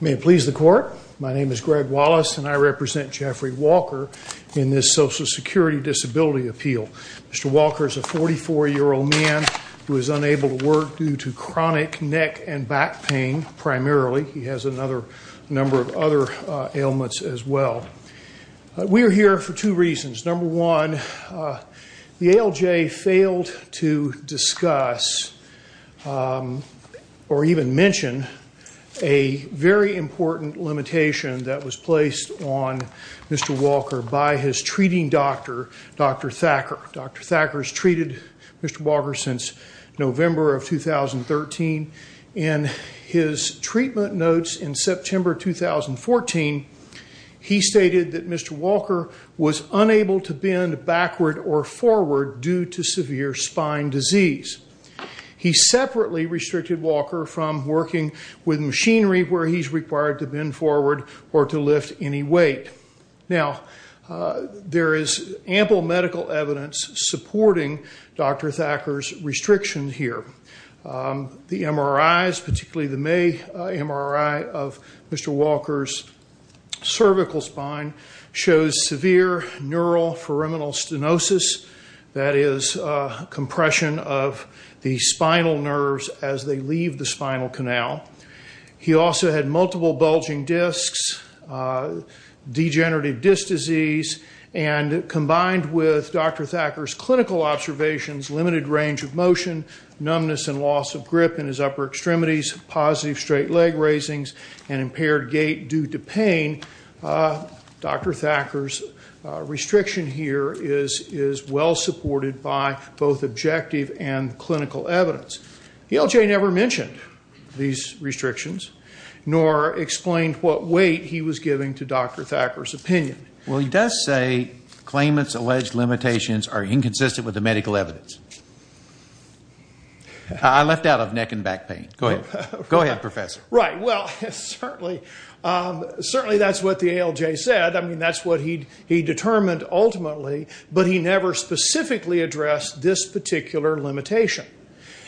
May it please the Court, my name is Greg Wallace and I represent Jeffrey Walker in this Social Security Disability Appeal. Mr. Walker is a 44-year-old man who is unable to work due to chronic neck and back pain primarily. He has a number of other ailments as well. We are here for two reasons. Number one, the ALJ failed to discuss or even mention a very important limitation that was placed on Mr. Walker by his treating doctor, Dr. Thacker. Dr. Thacker has treated Mr. Walker since November of 2013 and his treatment notes in September 2014, he stated that Mr. Walker was unable to bend backward or forward due to severe spine disease. He separately restricted Walker from working with machinery where he is required to bend forward or to lift any weight. Now, there is ample medical evidence supporting Dr. Thacker's restriction here. The MRIs, particularly the May MRI of Mr. Walker's cervical spine shows severe neuro-foreminal stenosis, that is compression of the spinal nerves as they leave the spinal canal. He also had multiple bulging discs, degenerative disc disease, and combined with Dr. Thacker's clinical observations, limited range of motion, numbness and loss of grip in his upper extremities, positive straight leg raisings, and impaired gait due to pain, Dr. Thacker's restriction here is well supported by both objective and clinical evidence. ALJ never mentioned these restrictions nor explained what weight he was giving to Dr. Thacker's opinion. Well, he does say claimant's alleged limitations are inconsistent with the medical evidence. I left out of neck and back pain. Go ahead. Go ahead, Professor. Right. Well, certainly that's what the ALJ said, I mean, that's what he determined ultimately, but he never specifically addressed this particular limitation.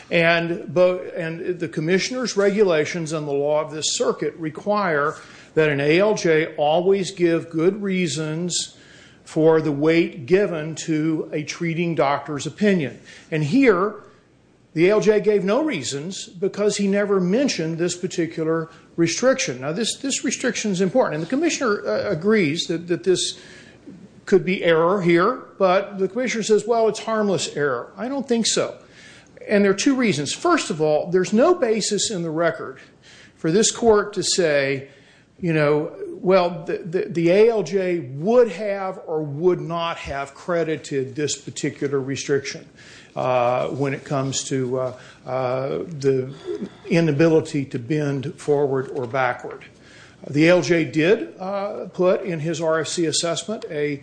And the commissioner's regulations and the law of this circuit require that an ALJ always give good reasons for the weight given to a treating doctor's opinion. And here, the ALJ gave no reasons because he never mentioned this particular restriction. Now, this restriction is important. And the commissioner agrees that this could be error here, but the commissioner says, well, it's harmless error. I don't think so. And there are two reasons. First of all, there's no basis in the record for this court to say, you know, well, the ALJ would have or would not have credited this particular restriction when it comes to the inability to bend forward or backward. The ALJ did put in his RFC assessment a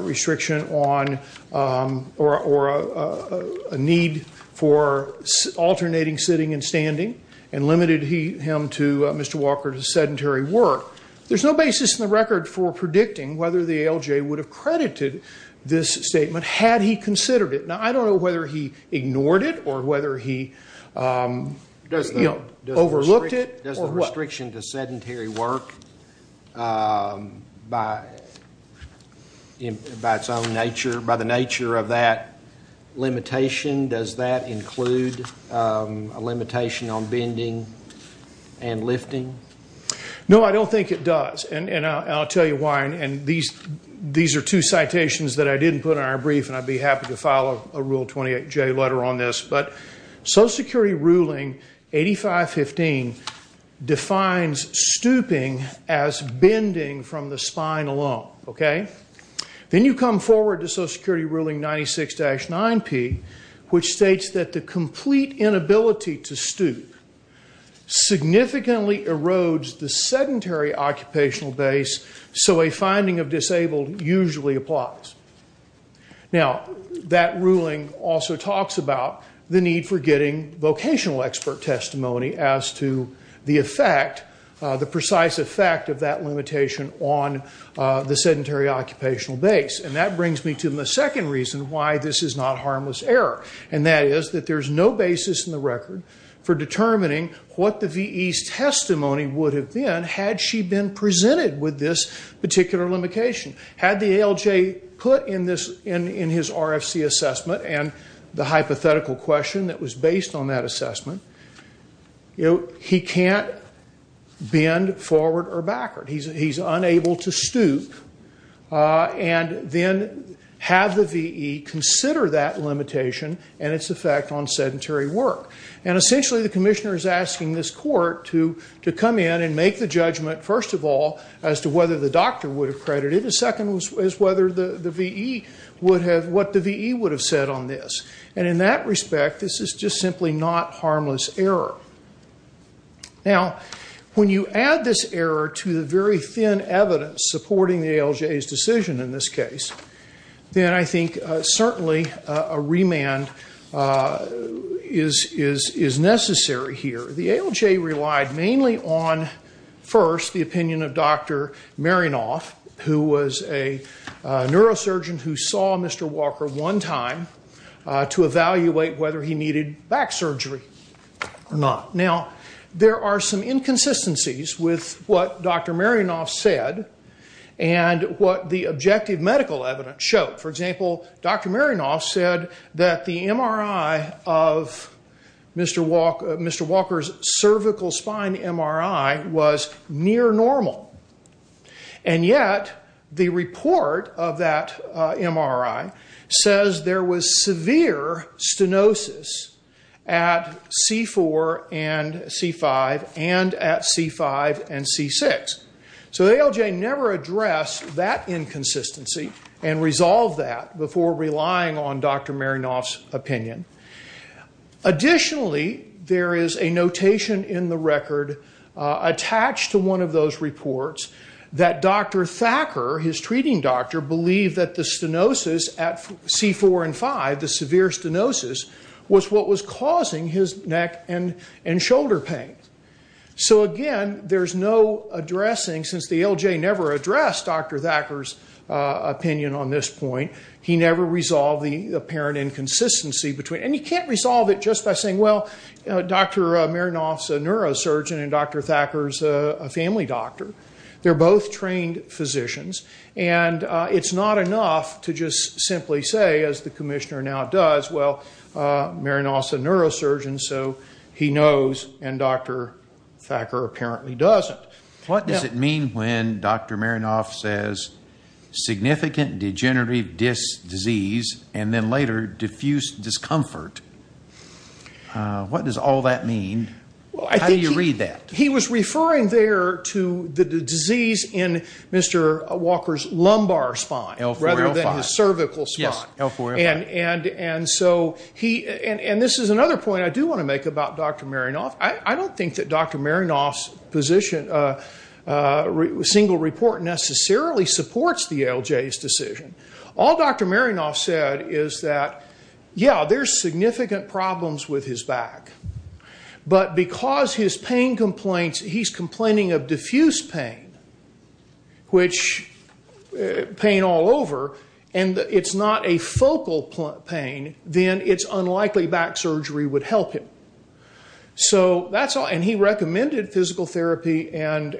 restriction on or a need for alternating sitting and standing and limited him to, Mr. Walker, to sedentary work. There's no basis in the record for predicting whether the ALJ would have credited this statement had he considered it. Now, I don't know whether he ignored it or whether he overlooked it or what. So, restriction to sedentary work, by its own nature, by the nature of that limitation, does that include a limitation on bending and lifting? No, I don't think it does. And I'll tell you why. And these are two citations that I didn't put in our brief, and I'd be happy to file a Rule 28J letter on this. But Social Security Ruling 8515 defines stooping as bending from the spine alone, okay? Then you come forward to Social Security Ruling 96-9P, which states that the complete inability to stoop significantly erodes the sedentary occupational base, so a finding of disabled usually applies. Now, that ruling also talks about the need for getting vocational expert testimony as to the effect, the precise effect of that limitation on the sedentary occupational base. And that brings me to the second reason why this is not harmless error. And that is that there's no basis in the record for determining what the VE's testimony would have been had she been presented with this particular limitation. Had the ALJ put in his RFC assessment and the hypothetical question that was based on that assessment, he can't bend forward or backward. He's unable to stoop. And then have the VE consider that limitation and its effect on sedentary work. And essentially, the commissioner is asking this court to come in and make the judgment, first of all, as to whether the doctor would have credited, and second is whether the VE would have, what the VE would have said on this. And in that respect, this is just simply not harmless error. Now, when you add this error to the very thin evidence supporting the ALJ's decision in this case, then I think certainly a remand is necessary here. The ALJ relied mainly on, first, the opinion of Dr. Marinoff, who was a neurosurgeon who saw Mr. Walker one time to evaluate whether he needed back surgery or not. Now, there are some inconsistencies with what Dr. Marinoff said and what the objective medical evidence showed. For example, Dr. Marinoff said that the MRI of Mr. Walker's cervical spine MRI was near normal. And yet, the report of that MRI says there was severe stenosis at C4 and C5 and at C5 and C6. So the ALJ never addressed that inconsistency and resolved that before relying on Dr. Marinoff's opinion. Additionally, there is a notation in the record attached to one of those reports that Dr. Thacker, his treating doctor, believed that the stenosis at C4 and 5, the severe stenosis, was what was causing his neck and shoulder pain. So again, there's no addressing, since the ALJ never addressed Dr. Thacker's opinion on this point. He never resolved the apparent inconsistency between. And you can't resolve it just by saying, well, Dr. Marinoff's a neurosurgeon and Dr. Thacker's a family doctor. They're both trained physicians. And it's not enough to just simply say, as the commissioner now does, well, Marinoff's a neurosurgeon, so he knows, and Dr. Thacker apparently doesn't. What does it mean when Dr. Marinoff says significant degenerative disease and then later, diffuse discomfort? What does all that mean? How do you read that? He was referring there to the disease in Mr. Walker's lumbar spine rather than his cervical spine. L4, L5. Yes, L4, L5. And so he, and this is another point I do want to make about Dr. Marinoff. I don't think that Dr. Marinoff's single report necessarily supports the ALJ's decision. All Dr. Marinoff said is that, yeah, there's significant problems with his back. But because his pain complaints, he's complaining of diffuse pain, which, pain all over. And it's not a focal pain, then it's unlikely back surgery would help him. So that's all. And he recommended physical therapy and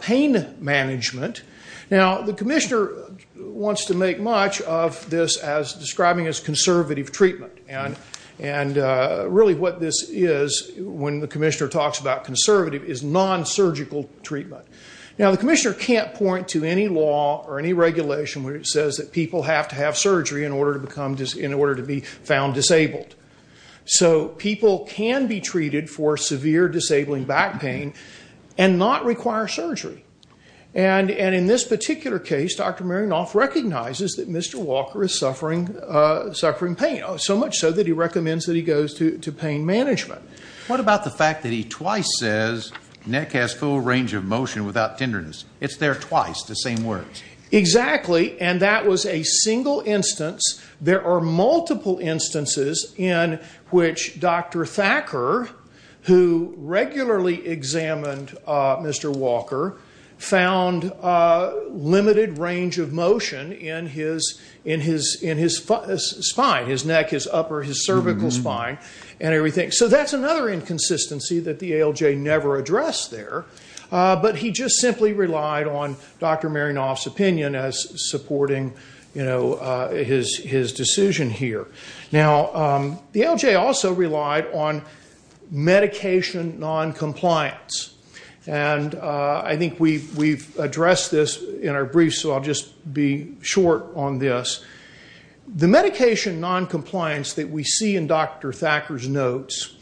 pain management. Now, the commissioner wants to make much of this as describing as conservative treatment. And really what this is, when the commissioner talks about conservative, is non-surgical treatment. Now, the commissioner can't point to any law or any regulation where it says that people have to have surgery in order to be found disabled. So people can be treated for severe disabling back pain and not require surgery. And in this particular case, Dr. Marinoff recognizes that Mr. Walker is suffering pain, so much so that he recommends that he goes to pain management. What about the fact that he twice says neck has full range of motion without tenderness? It's there twice, the same words. Exactly. And that was a single instance. There are multiple instances in which Dr. Thacker, who regularly examined Mr. Walker, found limited range of motion in his spine, his neck, his upper, his cervical spine, and everything. So that's another inconsistency that the ALJ never addressed there. But he just simply relied on Dr. Marinoff's opinion as supporting his decision here. Now, the ALJ also relied on medication non-compliance. And I think we've addressed this in our brief, so I'll just be short on this. The medication non-compliance that we see in Dr. Thacker's notes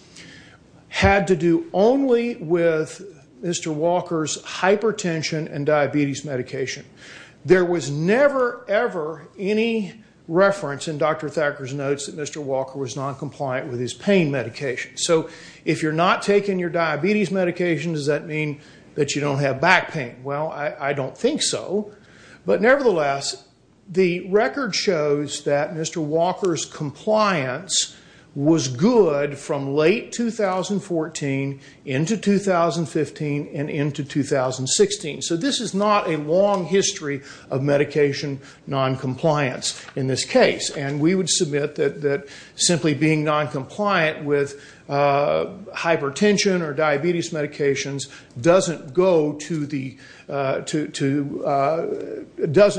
had to do only with Mr. Walker's hypertension and diabetes medication. There was never, ever any reference in Dr. Thacker's notes that Mr. Walker was non-compliant with his pain medication. So if you're not taking your diabetes medication, does that mean that you don't have back pain? Well, I don't think so. But nevertheless, the record shows that Mr. Walker's compliance was good from late 2014 into 2015 and into 2016. So this is not a long history of medication non-compliance in this case. And we would submit that simply being non-compliant with hypertension or diabetes medications doesn't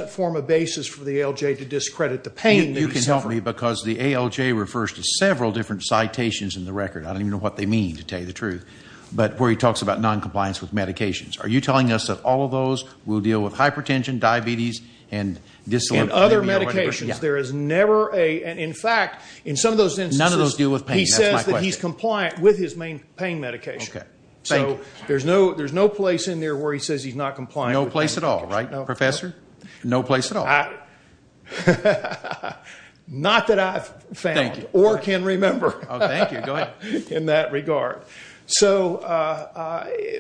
form a basis for the ALJ to discredit the pain that he suffered. You can help me, because the ALJ refers to several different citations in the record. I don't even know what they mean, to tell you the truth. But where he talks about non-compliance with medications. Are you telling us that all of those will deal with hypertension, diabetes, and dyslipidemia? In other medications, there is never a... And in fact, in some of those instances... None of those deal with pain. That's my question. He says that he's compliant with his main pain medication. Okay. Thank you. So there's no place in there where he says he's not compliant with pain medication. No place at all, right, Professor? No place at all. Not that I've found or can remember. Oh, thank you. Go ahead. In that regard. So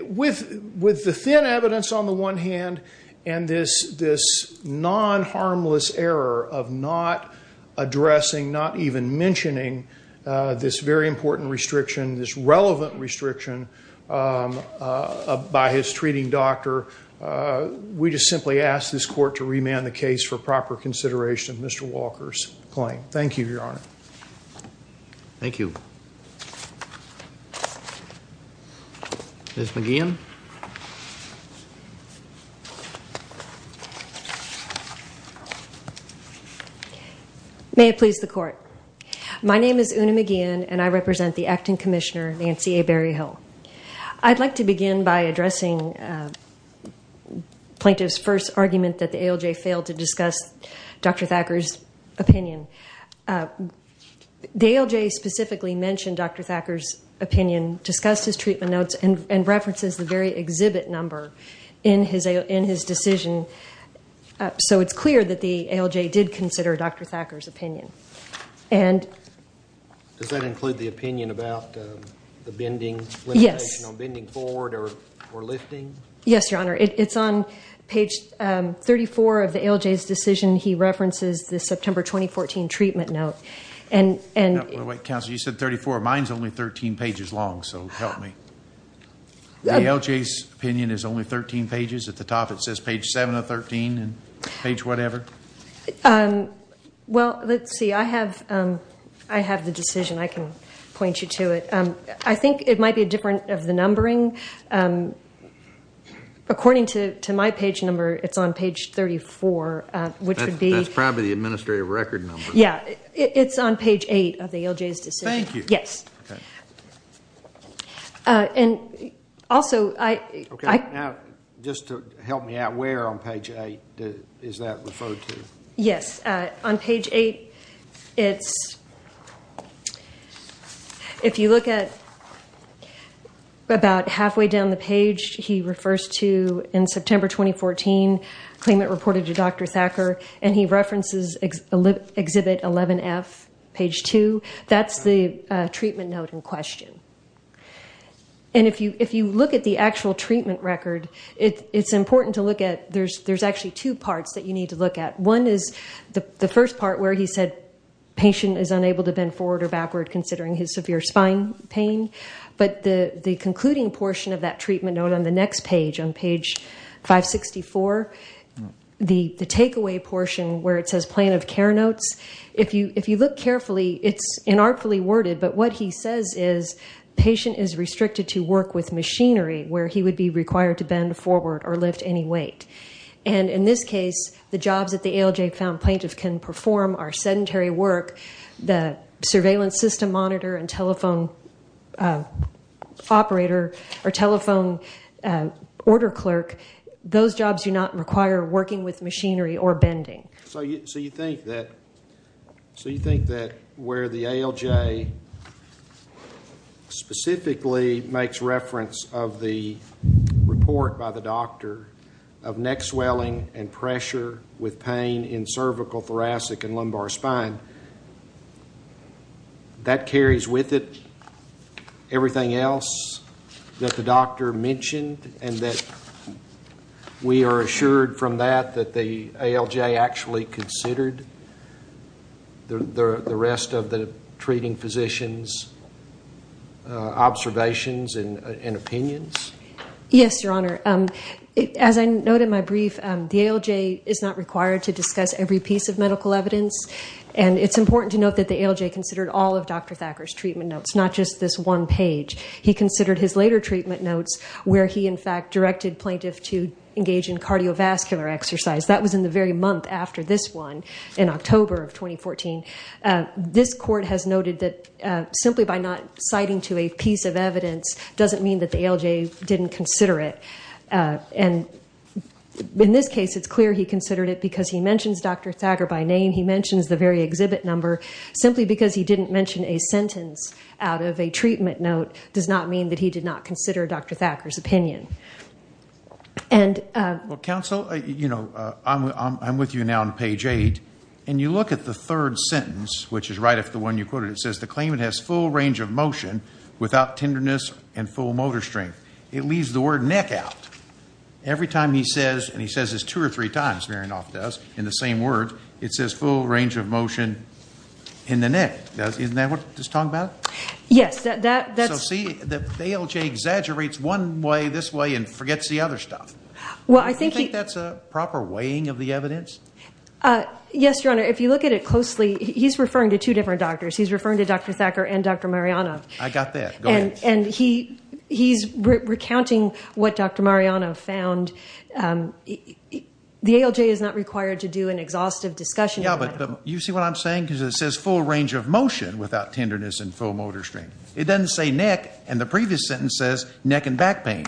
with the thin evidence on the one hand and this non-harmless error of not addressing, not even mentioning this very important restriction, this relevant restriction by his treating doctor, we just simply ask this court to remand the case for proper consideration of Mr. Walker's claim. Thank you, Your Honor. Thank you. Ms. McGeehan. May it please the Court. My name is Una McGeehan, and I represent the Acting Commissioner, Nancy A. Berryhill. I'd like to begin by addressing plaintiff's first argument that the ALJ failed to discuss Dr. Thacker's opinion. The ALJ specifically mentioned Dr. Thacker's opinion, discussed his treatment notes, and references the very exhibit number in his decision. So it's clear that the ALJ did consider Dr. Thacker's opinion. Does that include the opinion about the bending, limitation on bending forward or lifting? Yes, Your Honor. It's on page 34 of the ALJ's decision. He references the September 2014 treatment note. Wait, Counselor, you said 34. Mine's only 13 pages long, so help me. The ALJ's opinion is only 13 pages. At the top it says page 7 of 13 and page whatever. Well, let's see. I have the decision. I can point you to it. I think it might be different of the numbering. According to my page number, it's on page 34, which would be. That's probably the administrative record number. Yeah, it's on page 8 of the ALJ's decision. Thank you. Yes. And also I... Okay. Now, just to help me out, where on page 8 is that referred to? Yes. On page 8, it's... If you look at about halfway down the page, he refers to in September 2014 claim that reported to Dr. Thacker, and he references exhibit 11F, page 2. That's the treatment note in question. And if you look at the actual treatment record, it's important to look at there's actually two parts that you need to look at. One is the first part where he said patient is unable to bend forward or backward considering his severe spine pain. But the concluding portion of that treatment note on the next page, on page 564, the takeaway portion where it says plan of care notes, if you look carefully, it's inartfully worded, but what he says is patient is restricted to work with machinery where he would be required to bend forward or lift any weight. And in this case, the jobs that the ALJ found plaintiff can perform are sedentary work, the surveillance system monitor and telephone operator or telephone order clerk. Those jobs do not require working with machinery or bending. So you think that where the ALJ specifically makes reference of the report by the doctor of neck swelling and pressure with pain in cervical, thoracic and lumbar spine, that carries with it everything else that the doctor mentioned and that we are assured from that that the ALJ actually considered the rest of the treating physician's observations and opinions? Yes, Your Honor. As I note in my brief, the ALJ is not required to discuss every piece of medical evidence, and it's important to note that the ALJ considered all of Dr. Thacker's treatment notes, not just this one page. He considered his later treatment notes where he, in fact, directed plaintiff to engage in cardiovascular exercise. That was in the very month after this one, in October of 2014. This court has noted that simply by not citing to a piece of evidence doesn't mean that the ALJ didn't consider it. And in this case, it's clear he considered it because he mentions Dr. Thacker by name. He mentions the very exhibit number simply because he didn't mention a sentence out of a treatment note does not mean that he did not consider Dr. Thacker's opinion. Counsel, I'm with you now on page 8, and you look at the third sentence, which is right after the one you quoted. It says the claimant has full range of motion without tenderness and full motor strength. It leaves the word neck out. Every time he says, and he says this two or three times, Marinoff does, in the same words, it says full range of motion in the neck. Isn't that what he's talking about? Yes. So see, the ALJ exaggerates one way this way and forgets the other stuff. Do you think that's a proper weighing of the evidence? Yes, Your Honor. If you look at it closely, he's referring to two different doctors. He's referring to Dr. Thacker and Dr. Marinoff. I got that. Go ahead. And he's recounting what Dr. Marinoff found. The ALJ is not required to do an exhaustive discussion. Yeah, but you see what I'm saying? Because it says full range of motion without tenderness and full motor strength. It doesn't say neck, and the previous sentence says neck and back pain.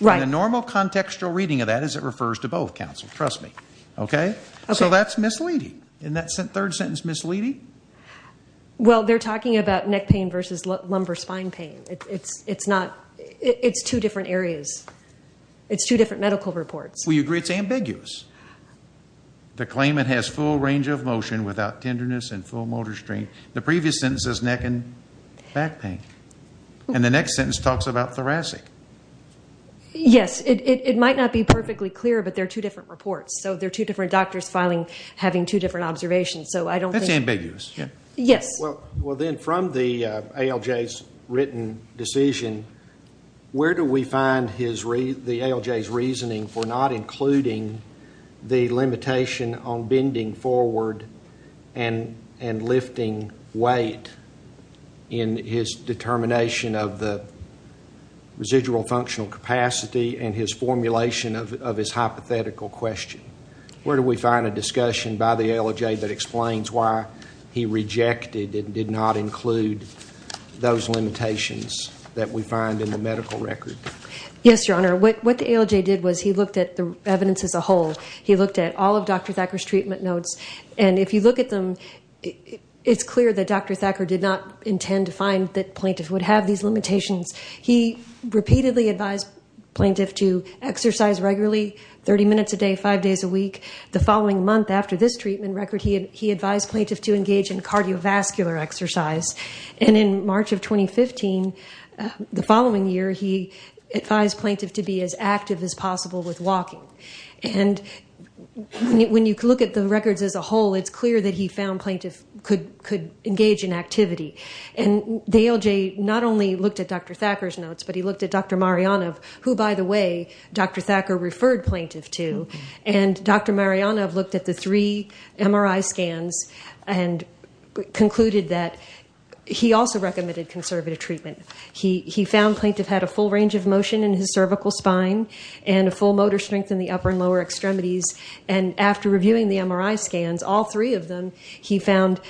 Right. And the normal contextual reading of that is it refers to both, counsel. Trust me. Okay? Okay. So that's misleading. Isn't that third sentence misleading? Well, they're talking about neck pain versus lumbar spine pain. It's not. It's two different areas. It's two different medical reports. Well, you agree it's ambiguous. The claimant has full range of motion without tenderness and full motor strength. The previous sentence says neck and back pain. And the next sentence talks about thoracic. Yes. It might not be perfectly clear, but they're two different reports. So they're two different doctors having two different observations. That's ambiguous. Yes. Well, then from the ALJ's written decision, where do we find the ALJ's reasoning for not including the limitation on bending forward and lifting weight in his determination of the residual functional capacity and his formulation of his hypothetical question? Where do we find a discussion by the ALJ that explains why he rejected and did not include those limitations that we find in the medical record? Yes, Your Honor. What the ALJ did was he looked at the evidence as a whole. He looked at all of Dr. Thacker's treatment notes. And if you look at them, it's clear that Dr. Thacker did not intend to find that plaintiffs would have these limitations. He repeatedly advised plaintiffs to exercise regularly, 30 minutes a day, five days a week. The following month, after this treatment record, he advised plaintiffs to engage in cardiovascular exercise. And in March of 2015, the following year, he advised plaintiffs to be as active as possible with walking. And when you look at the records as a whole, it's clear that he found plaintiffs could engage in activity. And the ALJ not only looked at Dr. Thacker's notes, but he looked at Dr. Marjanov, who, by the way, Dr. Thacker referred plaintiffs to. And Dr. Marjanov looked at the three MRI scans and concluded that he also recommended conservative treatment. He found plaintiffs had a full range of motion in his cervical spine and a full motor strength in the upper and lower extremities. And after reviewing the MRI scans, all three of them, he found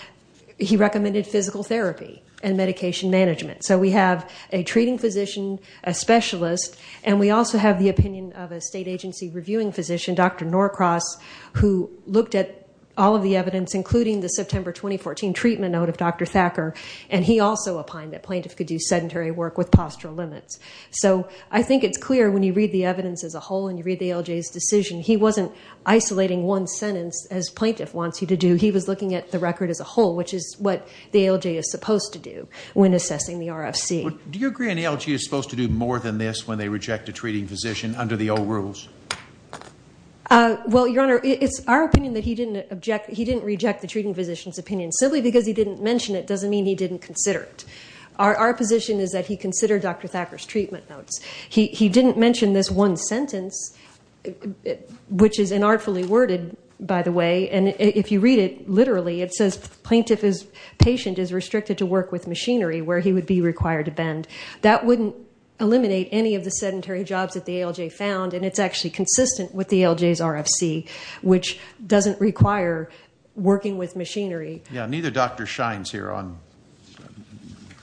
he recommended physical therapy and medication management. So we have a treating physician, a specialist, and we also have the opinion of a state agency reviewing physician, Dr. Norcross, who looked at all of the evidence, including the September 2014 treatment note of Dr. Thacker, and he also opined that plaintiffs could do sedentary work with postural limits. So I think it's clear when you read the evidence as a whole and you read the ALJ's decision, he wasn't isolating one sentence, as plaintiff wants you to do. He was looking at the record as a whole, which is what the ALJ is supposed to do when assessing the RFC. Do you agree an ALJ is supposed to do more than this when they reject a treating physician under the old rules? Well, Your Honor, it's our opinion that he didn't reject the treating physician's opinion. Simply because he didn't mention it doesn't mean he didn't consider it. Our position is that he considered Dr. Thacker's treatment notes. He didn't mention this one sentence, which is inartfully worded, by the way, and if you read it literally, it says, plaintiff is patient is restricted to work with machinery where he would be required to bend. That wouldn't eliminate any of the sedentary jobs that the ALJ found, and it's actually consistent with the ALJ's RFC, which doesn't require working with machinery. Yeah, neither doctor shines here on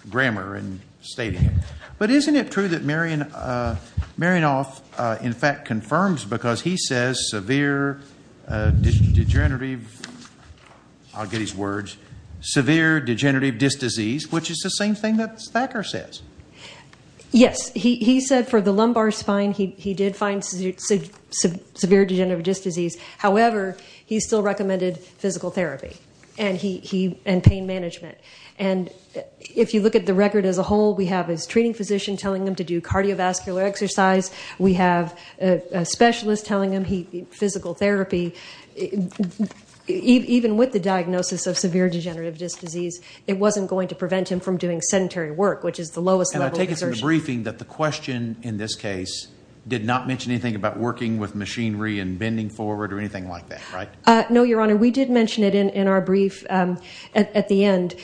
grammar and stating it. But isn't it true that Marianoff in fact confirms, because he says severe degenerative, I'll get his words, severe degenerative disc disease, which is the same thing that Thacker says? Yes. He said for the lumbar spine he did find severe degenerative disc disease. However, he still recommended physical therapy and pain management. And if you look at the record as a whole, we have his treating physician telling him to do cardiovascular exercise. We have a specialist telling him physical therapy. Even with the diagnosis of severe degenerative disc disease, it wasn't going to prevent him from doing sedentary work, which is the lowest level of exertion. And I take it from the briefing that the question in this case did not mention anything about working with machinery and bending forward or anything like that, right? No, Your Honor. We did mention it in our brief at the end.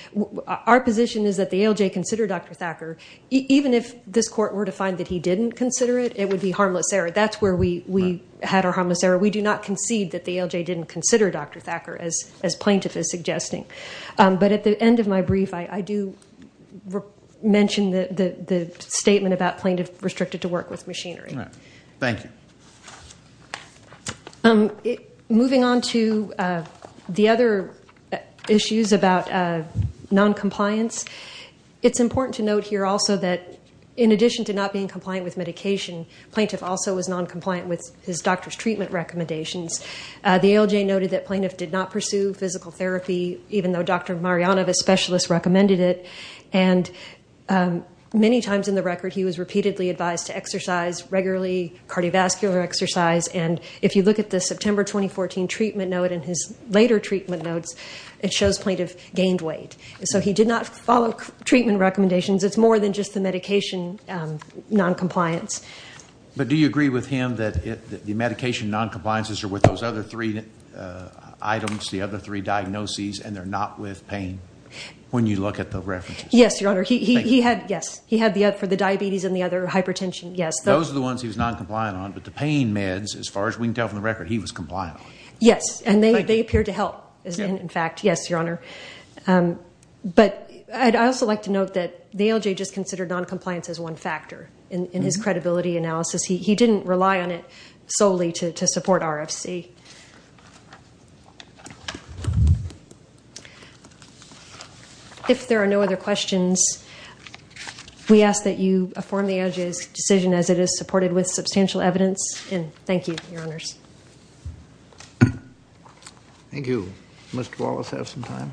Our position is that the ALJ considered Dr. Thacker. Even if this court were to find that he didn't consider it, it would be harmless error. That's where we had our harmless error. We do not concede that the ALJ didn't consider Dr. Thacker, as plaintiff is suggesting. But at the end of my brief, I do mention the statement about plaintiff restricted to work with machinery. All right. Thank you. Moving on to the other issues about noncompliance, it's important to note here also that in addition to not being compliant with medication, plaintiff also was noncompliant with his doctor's treatment recommendations. The ALJ noted that plaintiff did not pursue physical therapy, even though Dr. Marjanov, a specialist, recommended it. And many times in the record, he was repeatedly advised to exercise regularly, cardiovascular exercise. And if you look at the September 2014 treatment note and his later treatment notes, it shows plaintiff gained weight. So he did not follow treatment recommendations. It's more than just the medication noncompliance. But do you agree with him that the medication noncompliances are with those other three items, the other three diagnoses, and they're not with pain, when you look at the references? Yes, Your Honor. He had the diabetes and the other hypertension, yes. Those are the ones he was noncompliant on, but the pain meds, as far as we can tell from the record, he was compliant on. Yes. And they appear to help, in fact. Yes, Your Honor. But I'd also like to note that the ALJ just considered noncompliance as one factor in his credibility analysis. He didn't rely on it solely to support RFC. If there are no other questions, we ask that you affirm the ALJ's decision as it is supported with substantial evidence, and thank you, Your Honors. Thank you. Mr. Wallace, have some time.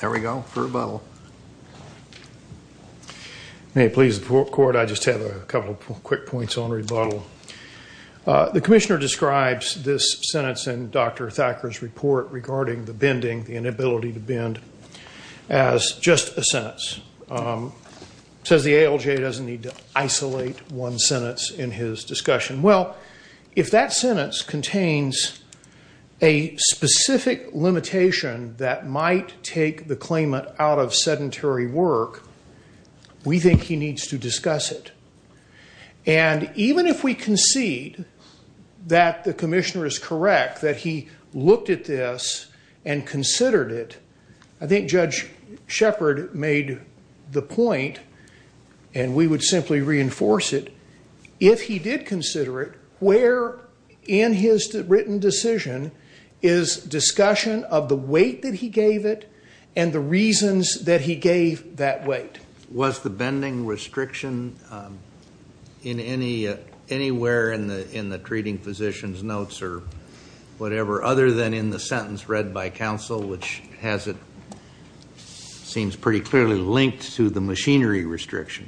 There we go, for rebuttal. May it please the Court, I just have a couple of quick points on rebuttal. The Commissioner describes this sentence in Dr. Thacker's report regarding the bending, the inability to bend, as just a sentence. He says the ALJ doesn't need to isolate one sentence in his discussion. Well, if that sentence contains a specific limitation that might take the claimant out of sedentary work, we think he needs to discuss it. And even if we concede that the Commissioner is correct, that he looked at this and considered it, I think Judge Shepard made the point, and we would simply reinforce it, if he did consider it, where in his written decision is discussion of the weight that he gave it and the reasons that he gave that weight. Was the bending restriction anywhere in the treating physician's notes or whatever, other than in the sentence read by counsel, which seems pretty clearly linked to the machinery restriction?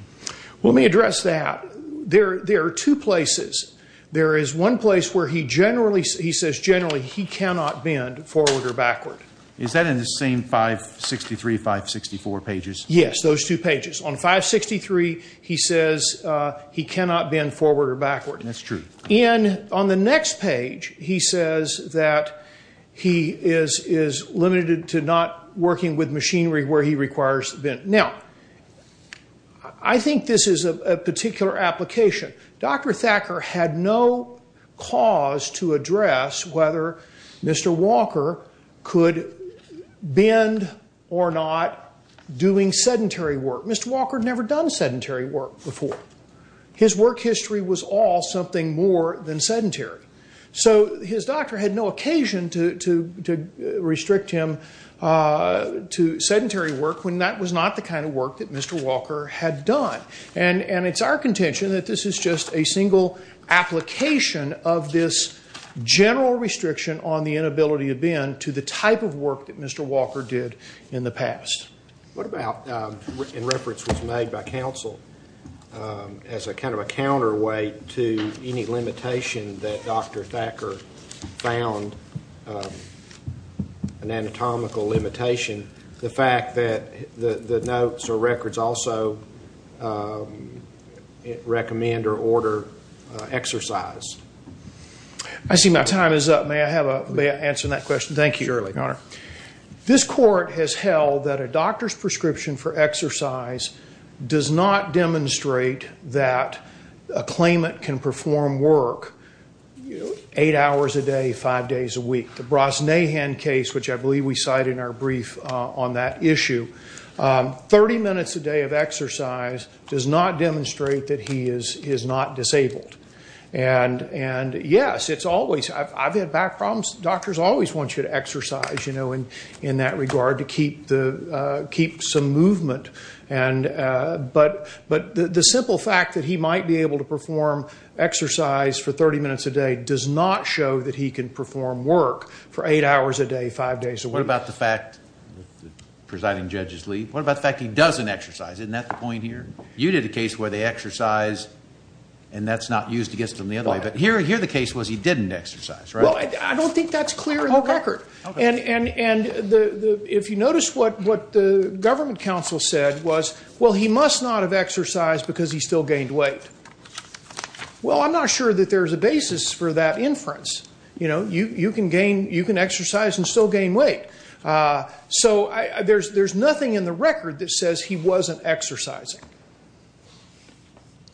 Well, let me address that. There are two places. There is one place where he says generally he cannot bend forward or backward. Is that in the same 563, 564 pages? Yes, those two pages. On 563 he says he cannot bend forward or backward. That's true. And on the next page he says that he is limited to not working with machinery where he requires the bend. Now, I think this is a particular application. Dr. Thacker had no cause to address whether Mr. Walker could bend or not doing sedentary work. Mr. Walker had never done sedentary work before. His work history was all something more than sedentary. So his doctor had no occasion to restrict him to sedentary work when that was not the kind of work that Mr. Walker had done. And it's our contention that this is just a single application of this general restriction on the inability to bend to the type of work that Mr. Walker did in the past. What about, and reference was made by counsel as a kind of a counterweight to any limitation that Dr. Thacker found, an anatomical limitation, the fact that the notes or records also recommend or order exercise? I see my time is up. May I answer that question? Thank you, Your Honor. This court has held that a doctor's prescription for exercise does not demonstrate that a claimant can perform work eight hours a day, five days a week. The Brosnahan case, which I believe we cited in our brief on that issue, 30 minutes a day of exercise does not demonstrate that he is not disabled. And yes, it's always, I've had back problems, doctors always want you to exercise in that regard to keep some movement. But the simple fact that he might be able to perform exercise for 30 minutes a day does not show that he can perform work for eight hours a day, five days a week. What about the fact, presiding judge's leave, what about the fact he doesn't exercise? Isn't that the point here? You did a case where they exercise and that's not used against them the other way, but here the case was he didn't exercise, right? Well, I don't think that's clear in the record. And if you notice what the government counsel said was, well, he must not have exercised because he still gained weight. Well, I'm not sure that there's a basis for that inference. You can exercise and still gain weight. So there's nothing in the record that says he wasn't exercising.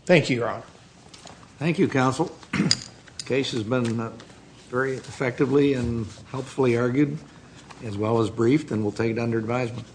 Thank you, Your Honor. Thank you, counsel. Case has been very effectively and helpfully argued as well as briefed and we'll take it under advisement.